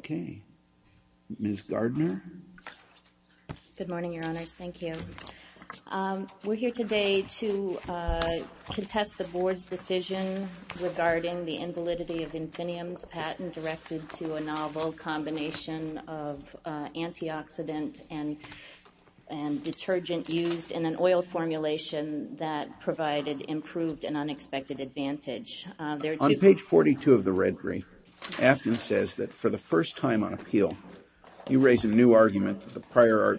Okay, Ms. Gardner. Good morning, Your Honors. Thank you. We're here today to contest the board's decision regarding the invalidity of Infineum's patent directed to a novel combination of antioxidant and detergent used in an oil formulation that provided improved and unexpected advantage. On page 42 of the red brief, Afton says that, for the first time on appeal, you raise a new argument that the prior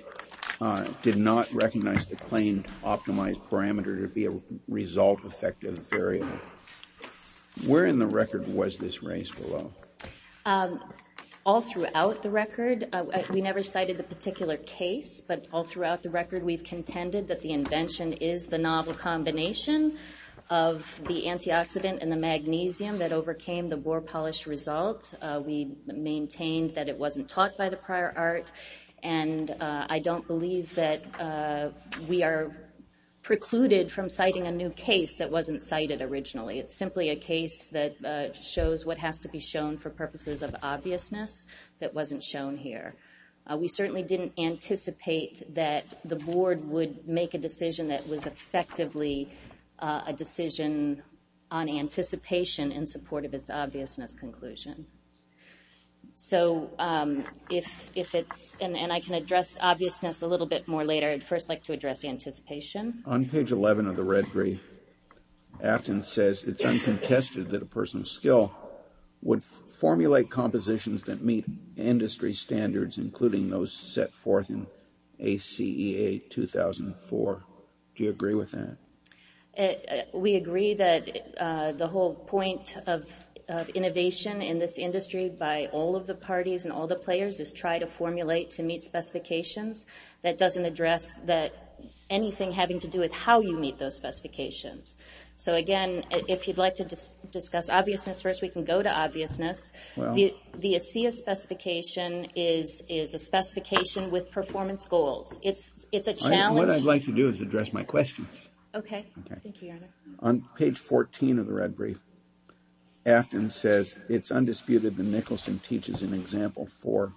art did not recognize the claimed optimized parameter to be a result-effective variable. Where in the record was this raised below? All throughout the record. We never cited the particular case, but all throughout the record we've contended that the invention is the novel combination of the antioxidant and the magnesium that overcame the boar polish result. We maintained that it wasn't taught by the prior art and I don't believe that we are precluded from citing a new case that wasn't cited originally. It's simply a case that shows what has to be shown for purposes of obviousness that wasn't shown here. We certainly didn't anticipate that the board would make a decision on anticipation in support of its obviousness conclusion. So if it's and I can address obviousness a little bit more later, I'd first like to address the anticipation. On page 11 of the red brief, Afton says it's uncontested that a person's skill would formulate compositions that meet industry standards including those set forth in ACEA 2004. Do you agree with that? We agree that the whole point of innovation in this industry by all of the parties and all the players is try to formulate to meet specifications that doesn't address anything having to do with how you meet those specifications. So again, if you'd like to discuss obviousness first, we can go to specification is a specification with performance goals. It's a challenge. What I'd like to do is address my questions. Okay. On page 14 of the red brief, Afton says it's undisputed that Nicholson teaches an example for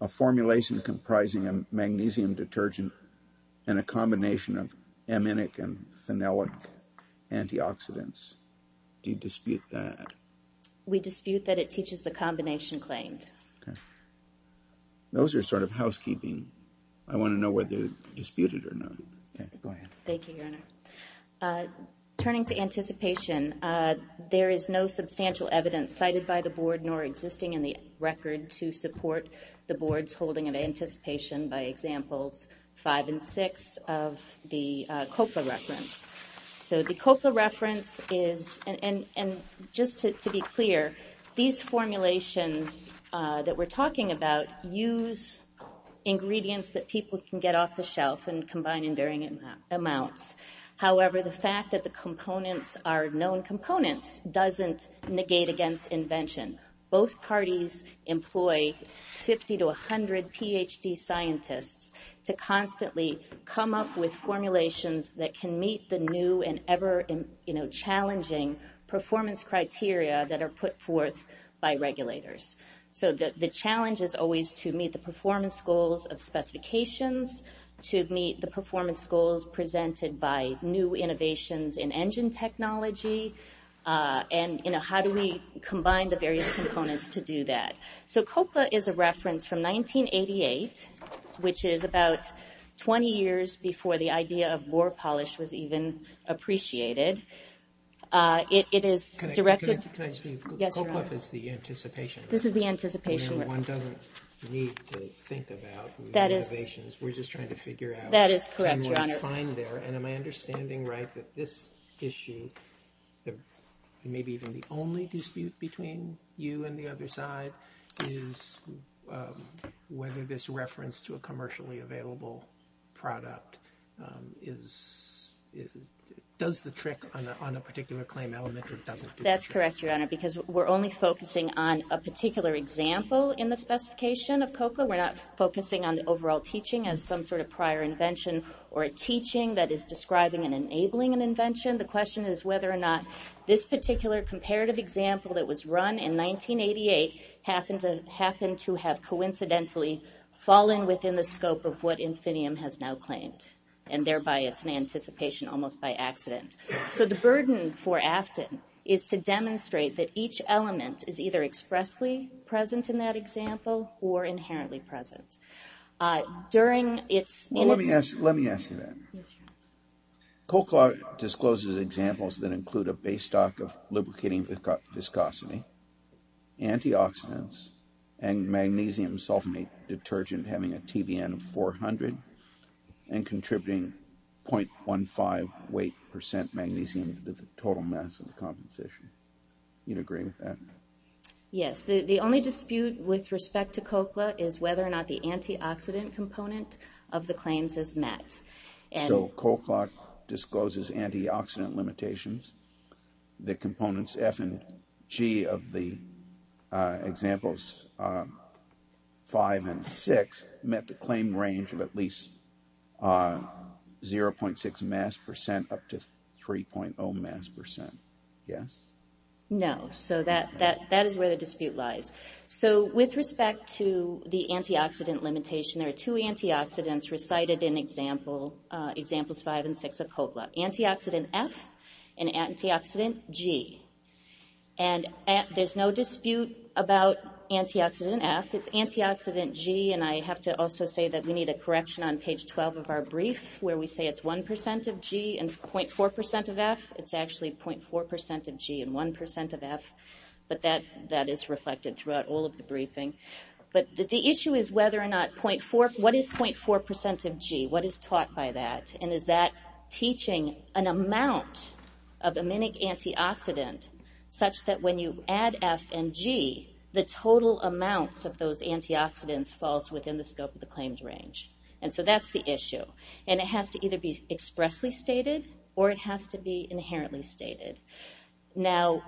a formulation comprising a magnesium detergent and a combination of aminic and phenolic antioxidants. Do you Those are sort of housekeeping. I want to know whether they're disputed or not. Turning to anticipation, there is no substantial evidence cited by the board nor existing in the record to support the board's holding of anticipation by examples five and six of the COPA reference. So the COPA we're talking about use ingredients that people can get off the shelf and combine in varying amounts. However, the fact that the components are known components doesn't negate against invention. Both parties employ 50 to 100 PhD scientists to constantly come up with formulations that can meet the new and ever-challenging performance criteria that are put forth by The challenge is always to meet the performance goals of specifications, to meet the performance goals presented by new innovations in engine technology, and you know how do we combine the various components to do that. So COPA is a reference from 1988, which is about 20 years before the idea of boar polish was One doesn't need to think about new innovations. We're just trying to figure out That is correct, Your Honor. And am I understanding right that this issue, maybe even the only dispute between you and the other side, is whether this reference to a commercially available product does the trick on a particular claim element or doesn't do the trick? That's correct, Your Honor, because we're only focusing on a particular example in the specification of COPA. We're not focusing on the overall teaching as some sort of prior invention or a teaching that is describing and enabling an invention. The question is whether or not this particular comparative example that was run in 1988 happened to happen to have coincidentally fallen within the scope of what Infinium has now claimed, and thereby it's an anticipation almost by accident. So the burden for Afton is to demonstrate that each element is either expressly present in that example or inherently present. Let me ask you that. Cochlear discloses examples that include a base stock of lubricating viscosity, antioxidants, and magnesium sulfonate detergent having a TBN of 400, and contributing 0.15 weight percent magnesium to the total mass of the composition. You'd agree with that? Yes. The only dispute with respect to COCLA is whether or not the antioxidant component of the claims is met. So COCLA discloses antioxidant limitations. The components F and G of the examples 5 and 6 met the claim range of at least 0.6 mass percent up to 3.0 mass percent. Yes? No. So that is where the dispute lies. So with respect to the antioxidant limitation, there are two antioxidants recited in examples 5 and 6 of COCLA. Antioxidant F and antioxidant G. And there's no dispute about antioxidant F. It's antioxidant G, and I have to also say that we need a correction on page 12 of our brief where we say it's 0.4% of G and 0.4% of F. It's actually 0.4% of G and 1% of F. But that is reflected throughout all of the briefing. But the issue is whether or not, what is 0.4% of G? What is taught by that? And is that teaching an amount of aminic antioxidant such that when you add F and G, the total amounts of those antioxidants falls within the scope of the claims range? And so that's the issue. And it has to either be expressly stated, or it has to be inherently stated. Now,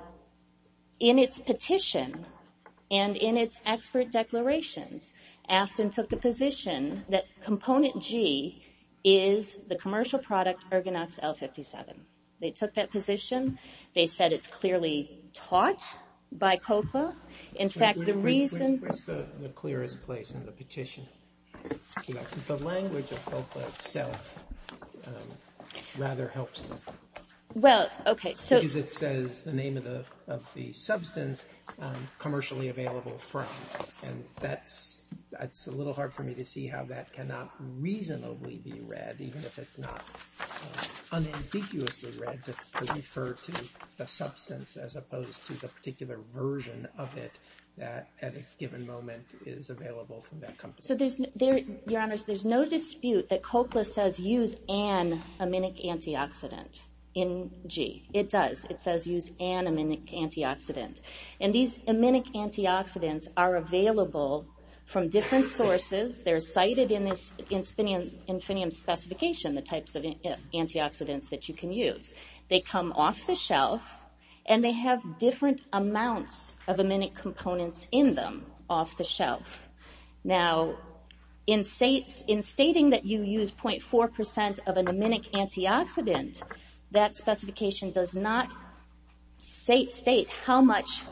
in its petition, and in its expert declarations, Afton took the position that component G is the commercial product Ergonox L57. They took that position. They said it's clearly taught by COCLA. In fact, the reason... Where's the clearest place in the petition? The language of COCLA itself rather helps them. Well, OK. Because it says the name of the substance commercially available from. And that's a little hard for me to see how that cannot reasonably be read, even if it's not unambiguously read, but referred to the substance as opposed to the particular version of it that at a given moment is available from that company. So there's no dispute that COCLA says use an aminic antioxidant in G. It does. It says use an aminic antioxidant. And these aminic antioxidants are available from different sources. They're cited in this Infinium specification, the types of antioxidants that you can use. They come off the shelf, and they have different amounts of aminic components in them off the shelf. Now, in stating that you use 0.4% of an aminic antioxidant, that specification does not state how much,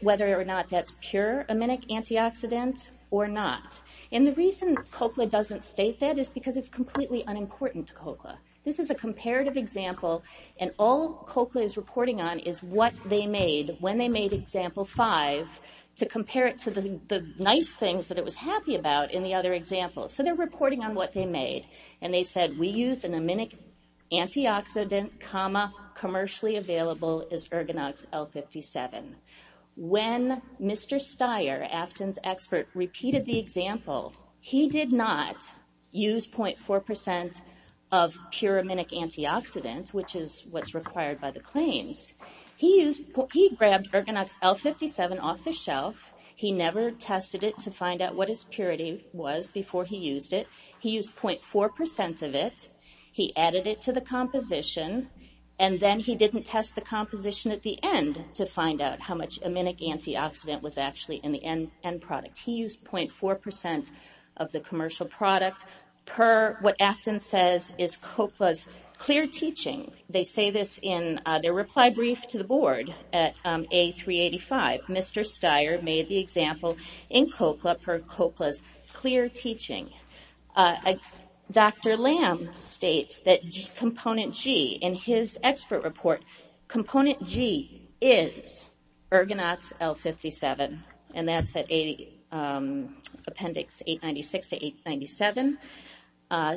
whether or not that's pure aminic antioxidant or not. And the reason COCLA doesn't state that is because it's completely unimportant to COCLA. This is a comparative example, and all COCLA is reporting on is what they made when they made example five to compare it to the nice things that it was happy about in the other example. So they're reporting on what they made. And they said, we use an aminic antioxidant, commercially available as Ergonox L57. When Mr. Steyer, Afton's expert, repeated the example, he did not use 0.4% of pure aminic antioxidant, which is what's required by the claims. He grabbed Ergonox L57 off the shelf. He never tested it to find out what his purity was before he used it. He used 0.4% of it. He added it to the composition, and then he didn't test the composition at the end to find out how much aminic antioxidant was actually in the end product. He used 0.4% of the commercial product, per what Afton says is COCLA's clear teaching. They say this in their reply brief to the board at A385. Mr. Steyer made the example in COCLA, per COCLA's clear teaching. Dr. Lamb states that component G in his expert report, component G is Ergonox L57. And that's at appendix 896 to 897.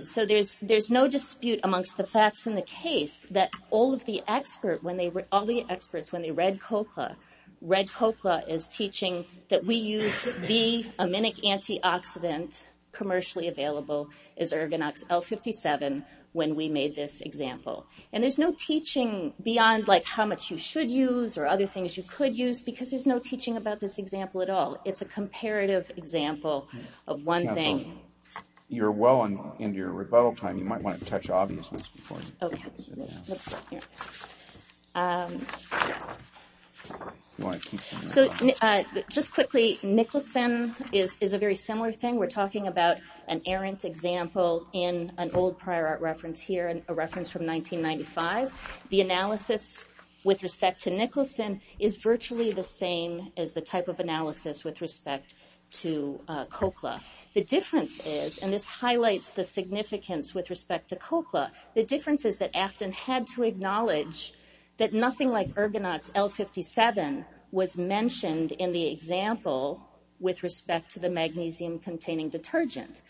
So there's no dispute amongst the facts in the case that all of the experts, when they read COCLA, read COCLA as teaching that we use B, aminic antioxidant, commercially available, is Ergonox L57 when we made this example. And there's no teaching beyond how much you should use or other things you could use, because there's no teaching about this example at all. It's a comparative example of one thing. You're well into your rebuttal time. You might want to touch obviousness before you... Okay. Let's go here. So just quickly, Nicholson is a very similar thing. We're talking about an errant example in an old prior art reference here, a reference from 1995. The analysis with respect to Nicholson is virtually the same as the type of analysis with respect to COCLA. The difference is, and this highlights the significance with respect to COCLA, the difference is that Afton had to acknowledge that nothing like Ergonox L57 was mentioned in the example with respect to the magnesium-containing detergent.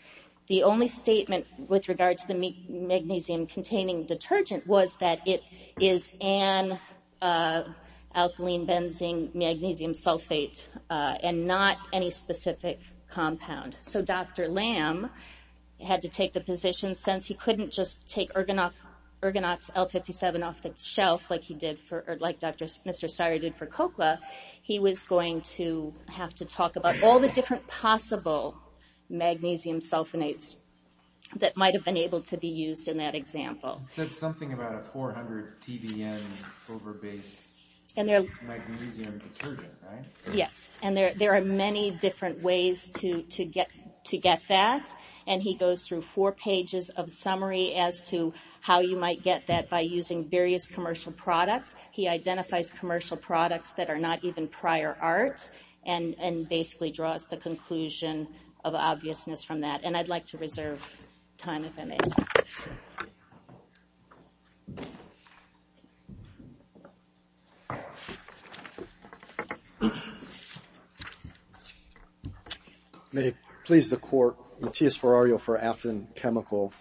The only statement with regard to the magnesium-containing detergent was that it is an alkaline-benzene-magnesium sulfate and not any specific compound. So Dr. Lamb had to take the position, since he couldn't just take Ergonox L57 off the shelf like he did for... like Mr. Steyer did for COCLA, he was going to have to talk about all the different possible magnesium sulfonates that might have been able to be used in that example. He said something about a 400 TBN over-based magnesium detergent, right? Yes, and there are many different ways to get that. And he goes through four pages of summary as to how you might get that by using various commercial products. He identifies commercial products that are not even prior art and basically draws the conclusion of obviousness from that. And I'd like to reserve time if I may. May it please the Court, Matthias Ferrario for Afton Chemical.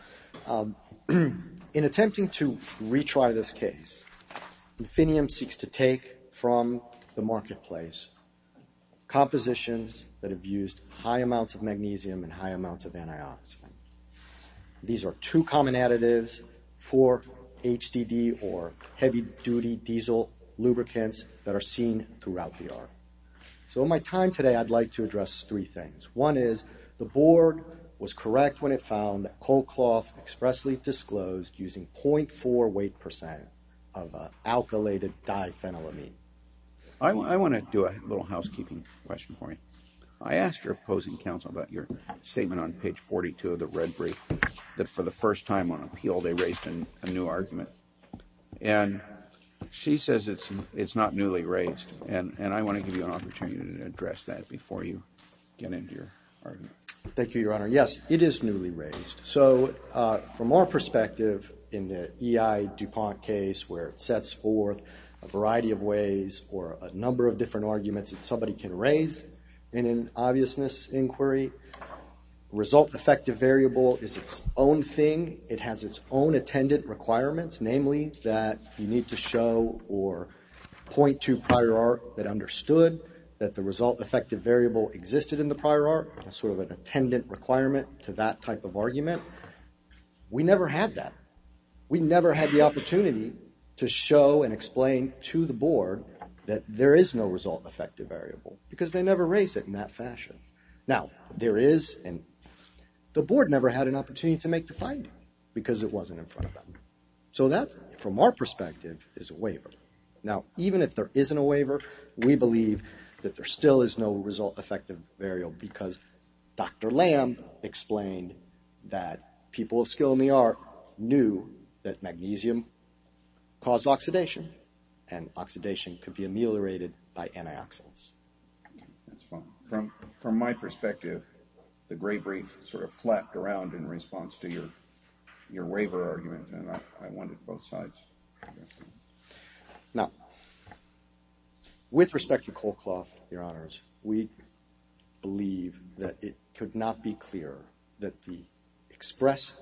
In attempting to retry this case, Infinium seeks to take from the marketplace compositions that have used high amounts of magnesium and high amounts of antioxidant. These are two common additives for HDD or heavy-duty diesel lubricants that are seen throughout the art. So in my time today, I'd like to address three things. One is the board was correct when it found that COCLA expressly disclosed using 0.4 weight percent of alkylated diphenyl amine. I want to do a little housekeeping question for you. I asked your opposing counsel about your statement on page 42 of the red brief that for the first time on appeal, they raised a new argument. And she says it's not newly raised. And I want to give you an opportunity to address that before you get into your argument. Thank you, Your Honor. Yes, it is newly raised. So from our perspective, in the EI DuPont case where it sets forth a variety of ways or a number of different arguments that somebody can raise in an obviousness inquiry, result effective variable is its own thing. It has its own attendant requirements, namely that you need to show or point to prior art that understood that the result effective variable existed in the prior art, sort of an attendant requirement to that type of argument. We never had that. We never had the opportunity to show and explain to the board that there is no result effective variable because they never raised it in that fashion. Now, there is, and the board never had an opportunity to make the finding because it wasn't in front of them. So that, from our perspective, is a waiver. Now, even if there isn't a waiver, we believe that there still is no result effective variable because Dr. Lamb explained that people of skill in the art knew that magnesium caused oxidation and oxidation could be ameliorated by antioxidants. That's fine. From my perspective, the gray brief sort of flapped around in response to your waiver argument, and I wanted both sides to address that. Now, with respect to Cole Clough, Your Honors, we believe that it could not be clearer that the express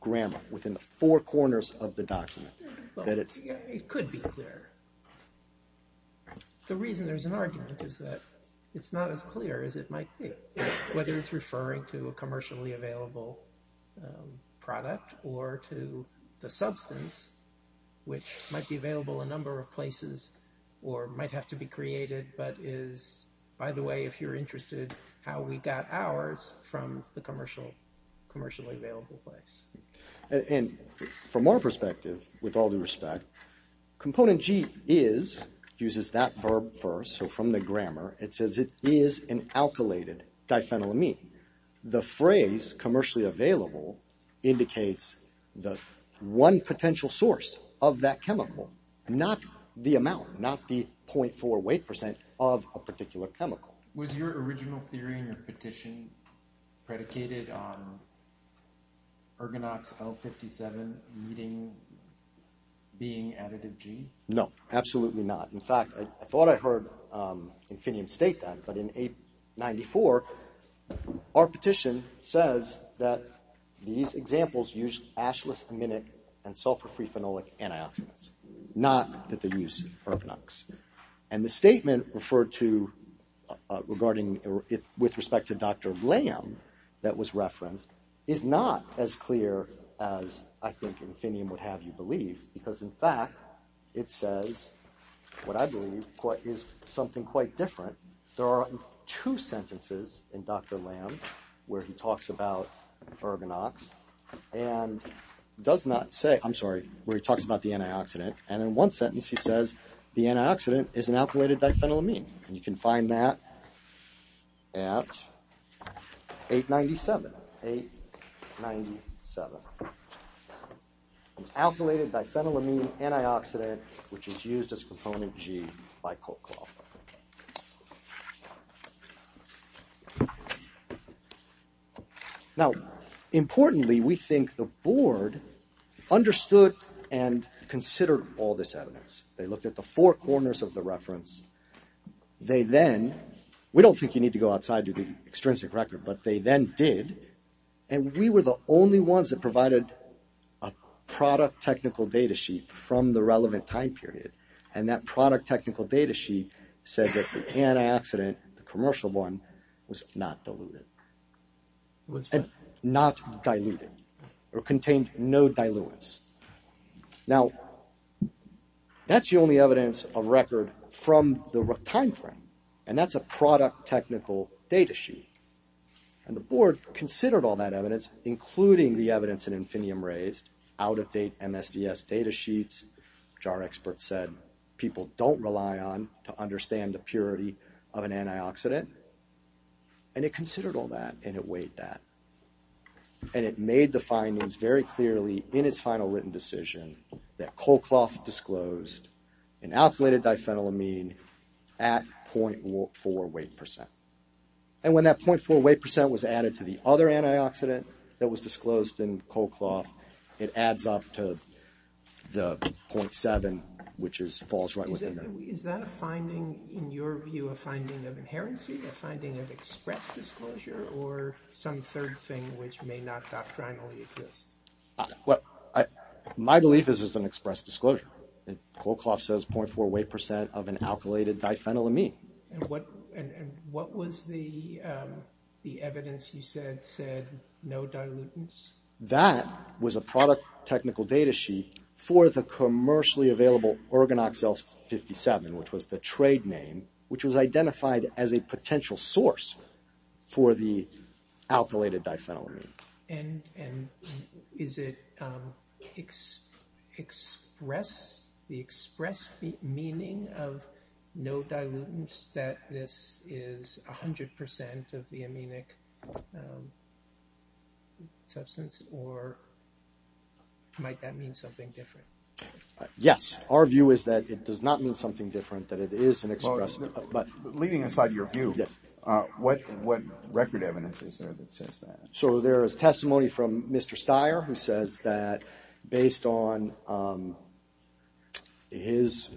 grammar within the four corners of the document, that it's... It could be clear. The reason there's an argument is that it's not as clear as it might be, whether it's referring to a commercially available product or to the substance, which might be available in a number of places or might have to be created, but is, by the way, if you're interested, how we got ours from the commercially available place. And from our perspective, with all due respect, component G is, uses that verb first, so from the grammar, it says it is an alkylated diphenylamine. The phrase commercially available indicates the one potential source of that chemical, not the amount, not the 0.48% of a particular chemical. Was your original theory and your petition predicated on Ergonox L57 being additive G? No, absolutely not. In fact, I thought I heard Infinium state that, but in 894, our petition says that these examples use ashless aminic and sulfur-free phenolic antioxidants, not that they use Ergonox. And the statement referred to regarding, with respect to Dr. Lamb that was referenced is not as clear as I think Infinium would have you believe, because in fact, it says what I believe is something quite different. There are two sentences in Dr. Lamb where he talks about Ergonox and does not say, I'm sorry, where he talks about the antioxidant, and in one sentence he says, the antioxidant is an alkylated diphenylamine. And you can find that at 897. 897. Alkylated diphenylamine antioxidant, which is used as a component G by Coke Law. Now, importantly, we think the board understood and considered all this evidence. They looked at the four corners of the reference. They then, we don't think you need to go outside to the extrinsic record, but they then did, and we were the only ones that provided a product technical data sheet from the relevant time period, and that product technical data sheet said that the antioxidant, the commercial one, was not diluted. It was not diluted or contained no diluents. Now, that's the only evidence of record from the time frame, and that's a product technical data sheet, and the board considered all that evidence, including the evidence that Infiniium raised, out-of-date MSDS data sheets, which our experts said people don't rely on to understand the purity of an antioxidant, and it considered all that, and it weighed that, and it made the findings very clearly in its final written decision that Colcloth disclosed an alkylated diphenylamine at .4 weight percent, and when that .4 weight percent was added to the other antioxidant that was disclosed in Colcloth, it adds up to the .7, which falls right within that. Is that a finding, in your view, a finding of inherency, a finding of express disclosure, or some third thing which may not doctrinally exist? Well, my belief is it's an express disclosure, and Colcloth says .4 weight percent of an alkylated diphenylamine. And what was the evidence you said said no dilutants? That was a product technical data sheet for the commercially available Organoxel-57, which was the trade name, which was identified as a potential source for the alkylated diphenylamine. And is it the express meaning of no dilutants that this is 100% of the aminic substance, or might that mean something different? Yes. Our view is that it does not mean something different, that it is an express. Leading us out of your view, what record evidence is there that says that? So there is testimony from Mr. Steyer, who says that based on his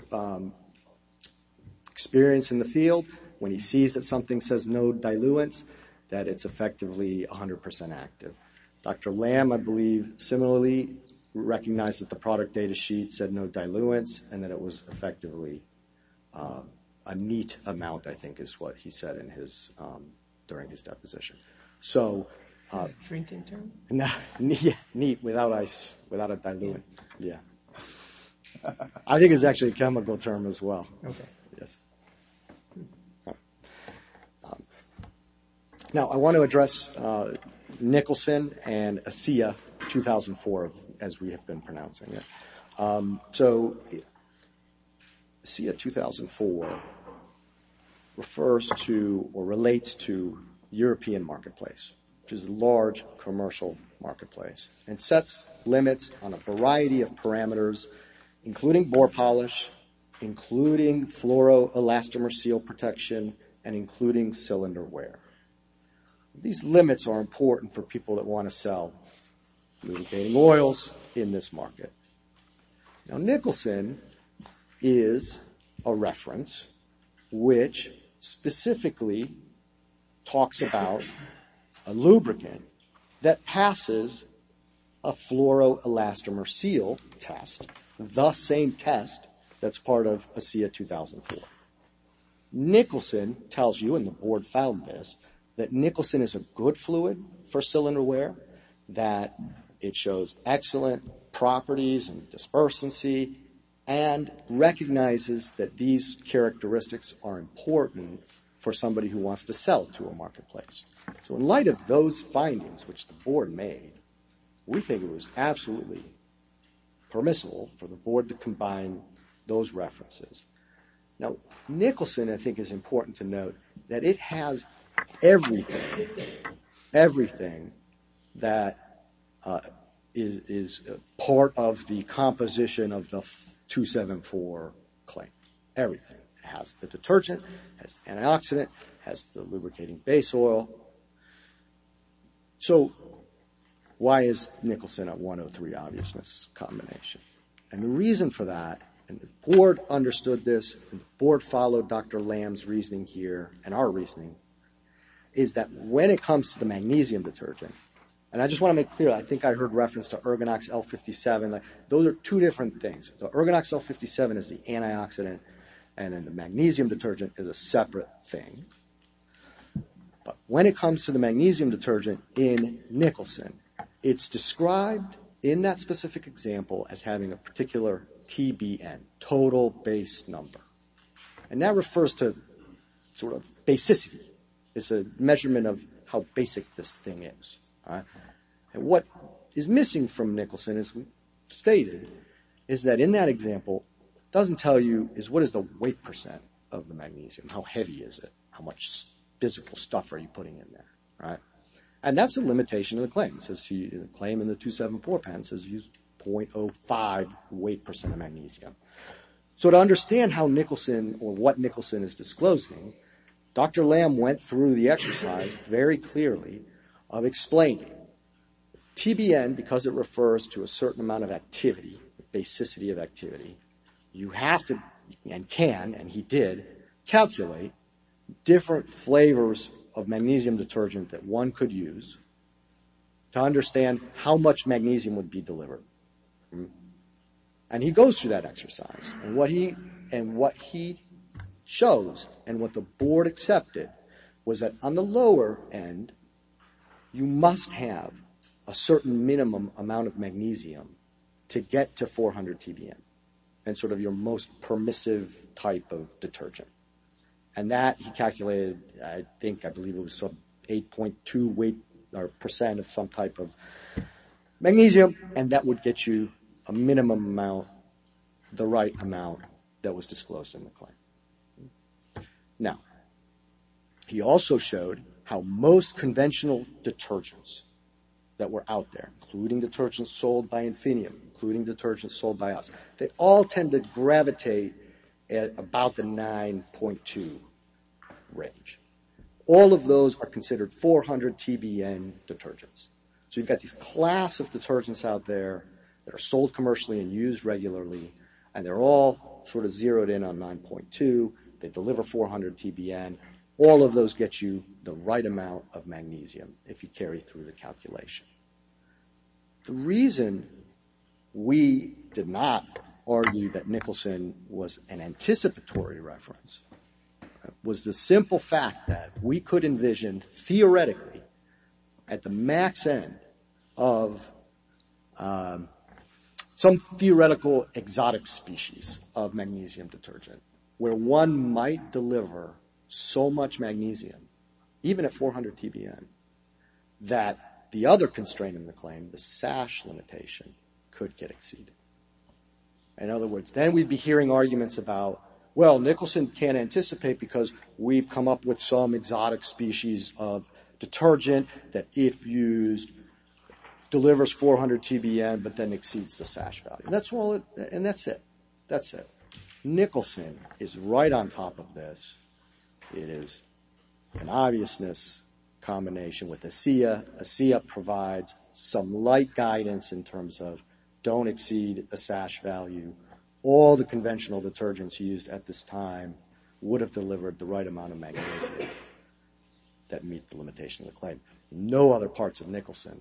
experience in the field, when he sees that something says no diluents, that it's effectively 100% active. Dr. Lamb, I believe, similarly recognized that the product data sheet said no diluents, and that it was effectively a neat amount, I think is what he said during his deposition. So neat without a diluent, yeah. I think it's actually a chemical term as well. Okay. Yes. Now, I want to address Nicholson and ASEA 2004, as we have been pronouncing it. So ASEA 2004 refers to, or relates to European marketplace, which is a large commercial marketplace, and sets limits on a variety of parameters, including bore polish, including fluoroelastomer seal protection, and including cylinder wear. These limits are important for people that want to sell lubricating oils in this market. Now, Nicholson is a reference, which specifically talks about a lubricant that passes a fluoroelastomer seal test, the same test that's part of ASEA 2004. Nicholson tells you, and the board found this, that Nicholson is a good fluid for cylinder wear, that it shows excellent properties and dispersancy, and recognizes that these characteristics are important for somebody who wants to sell to a marketplace. So in light of those findings, which the board made, we think it was absolutely permissible for the board to combine those references. Now, Nicholson, I think, is important to note that it has everything, everything that is part of the composition of the 274 claim. Everything. It has the detergent, has the antioxidant, has the lubricating base oil. So why is Nicholson a 103 obviousness combination? And the reason for that, and the board understood this, and the board followed Dr. Lam's reasoning here, and our reasoning, is that when it comes to the magnesium detergent, and I just want to make clear, I think I heard reference to Ergonox L57. Those are two different things. The Ergonox L57 is the antioxidant, and then the magnesium detergent is a separate thing. But when it comes to the magnesium detergent in Nicholson, it's described in that specific example as having a particular TBN, total base number. And that refers to sort of basicity. It's a measurement of how basic this thing is. And what is missing from Nicholson, as we stated, is that in that example, doesn't tell you is what is the weight percent of the magnesium? How heavy is it? How much physical stuff are you putting in there, right? And that's a limitation of the claim. It says the claim in the 274 patent says use 0.05 weight percent of magnesium. So to understand how Nicholson, or what Nicholson is disclosing, Dr. Lam went through the exercise very clearly of explaining TBN, because it refers to a certain amount of activity, basicity of activity. You have to, and can, and he did, calculate different flavors of magnesium detergent that one could use to understand how much magnesium would be delivered. And he goes through that exercise. And what he shows, and what the board accepted, was that on the lower end, you must have a certain minimum amount of magnesium to get to 400 TBN, and sort of your most permissive type of detergent. And that he calculated, I think, I believe it was some 8.2 weight, or percent of some type of magnesium, and that would get you a minimum amount, the right amount that was disclosed in the claim. Now, he also showed how most conventional detergents that were out there, including detergents sold by Infineon, including detergents sold by us, they all tend to gravitate at about the 9.2 range. All of those are considered 400 TBN detergents. So you've got these class of detergents out there that are sold commercially and used regularly, and they're all sort of zeroed in on 9.2. They deliver 400 TBN. All of those get you the right amount of magnesium if you carry through the calculation. The reason we did not argue that Nicholson was an anticipatory reference was the simple fact that we could envision theoretically at the max end of some theoretical exotic species of magnesium detergent, where one might deliver so much magnesium, even at 400 TBN, that the other constraint in the claim, the sash limitation, could get exceeded. In other words, then we'd be hearing arguments about, well, Nicholson can't anticipate because we've come up with some exotic species of detergent that if used, delivers 400 TBN, but then exceeds the sash value. That's all it, and that's it, that's it. Nicholson is right on top of this. It is an obviousness combination with ASEA. ASEA provides some light guidance in terms of don't exceed the sash value. All the conventional detergents used at this time would have delivered the right amount of magnesium that meet the limitation of the claim. No other parts of Nicholson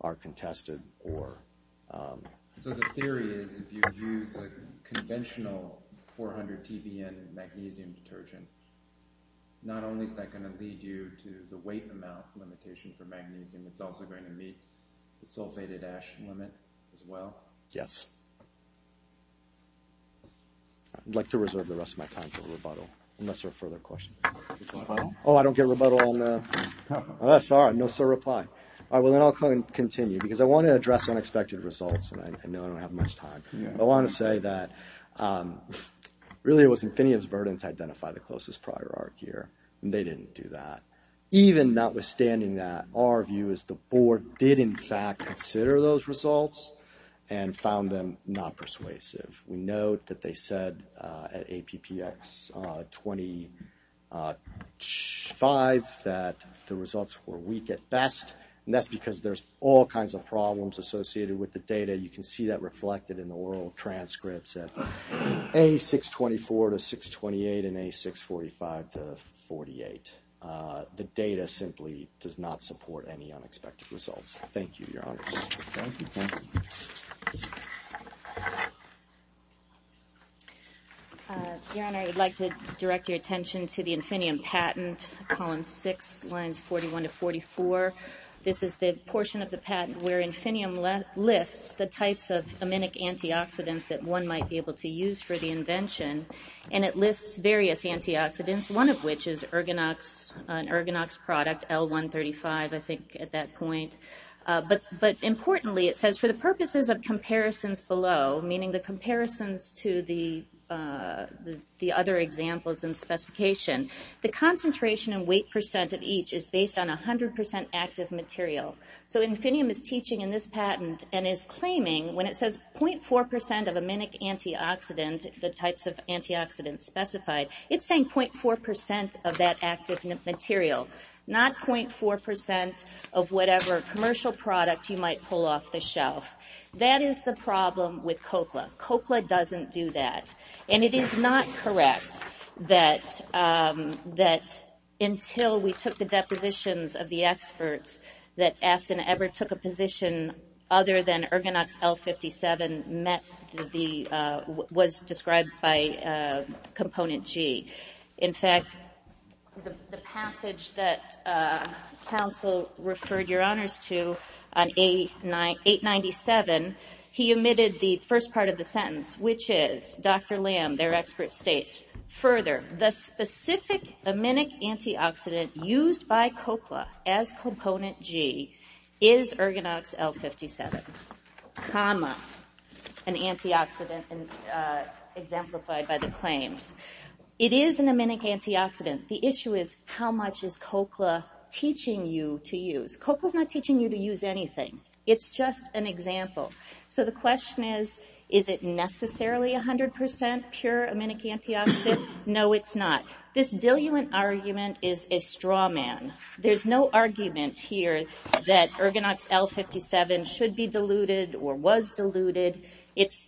are contested or. So the theory is if you use a conventional 400 TBN magnesium detergent, not only is that gonna lead you to the weight amount limitation for magnesium, it's also going to meet the sulfated ash limit as well? Yes. I'd like to reserve the rest of my time for rebuttal, unless there are further questions. Oh, I don't get rebuttal on the, oh, sorry, no sir reply. All right, well then I'll continue, because I wanna address unexpected results, and I know I don't have much time. I wanna say that really it was Infiniium's burden to identify the closest prior arc here, and they didn't do that. Even notwithstanding that, our view is the board did in fact consider those results and found them not persuasive. We note that they said at APPX 25 that the results were weak at best, and that's because there's all kinds of problems associated with the data. You can see that reflected in the oral transcripts at A624 to 628 and A645 to 48. The data simply does not support any unexpected results. Thank you, Your Honor. Thank you, thank you. Your Honor, I would like to direct your attention to the Infiniium patent, column six, lines 41 to 44. This is the portion of the patent where Infiniium lists the types of aminic antioxidants that one might be able to use for the invention, and it lists various antioxidants, one of which is an Ergonox product, L-135, I think at that point, but importantly, it says for the purposes of comparisons below, meaning the comparisons to the other examples and specification, the concentration and weight percent of each is based on 100% active material. So Infiniium is teaching in this patent and is claiming when it says 0.4% of aminic antioxidant, the types of antioxidants specified, it's saying 0.4% of that active material, not 0.4% of whatever commercial product you might pull off the shelf. That is the problem with Cochlea. Cochlea doesn't do that, and it is not correct that until we took the depositions of the experts that Afton ever took a position other than Ergonox L-57 met the, was described by Component G. In fact, the passage that counsel referred your honors to on 897, he omitted the first part of the sentence, which is, Dr. Lamb, their expert, states, further, the specific aminic antioxidant used by Cochlea as Component G is Ergonox L-57, comma, an antioxidant exemplified by the claims. It is an aminic antioxidant. The issue is, how much is Cochlea teaching you to use? Cochlea's not teaching you to use anything. It's just an example. So the question is, is it necessarily 100% pure aminic antioxidant? No, it's not. This diluent argument is a straw man. There's no argument here that Ergonox L-57 should be diluted or was diluted. It's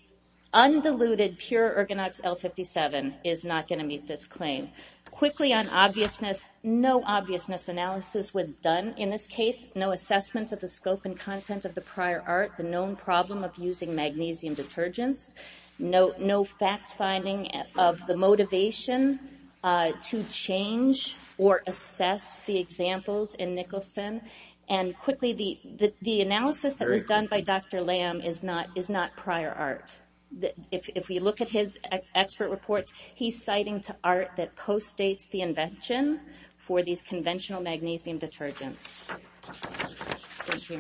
undiluted, pure Ergonox L-57 is not gonna meet this claim. Quickly on obviousness, no obviousness analysis was done in this case, no assessment of the scope and content of the prior art, the known problem of using magnesium detergents, no fact finding of the motivation to change or assess the examples in Nicholson. And quickly, the analysis that was done by Dr. Lamb is not prior art. If we look at his expert reports, he's citing to art that post-dates the invention Thank you, your honors. Thank you.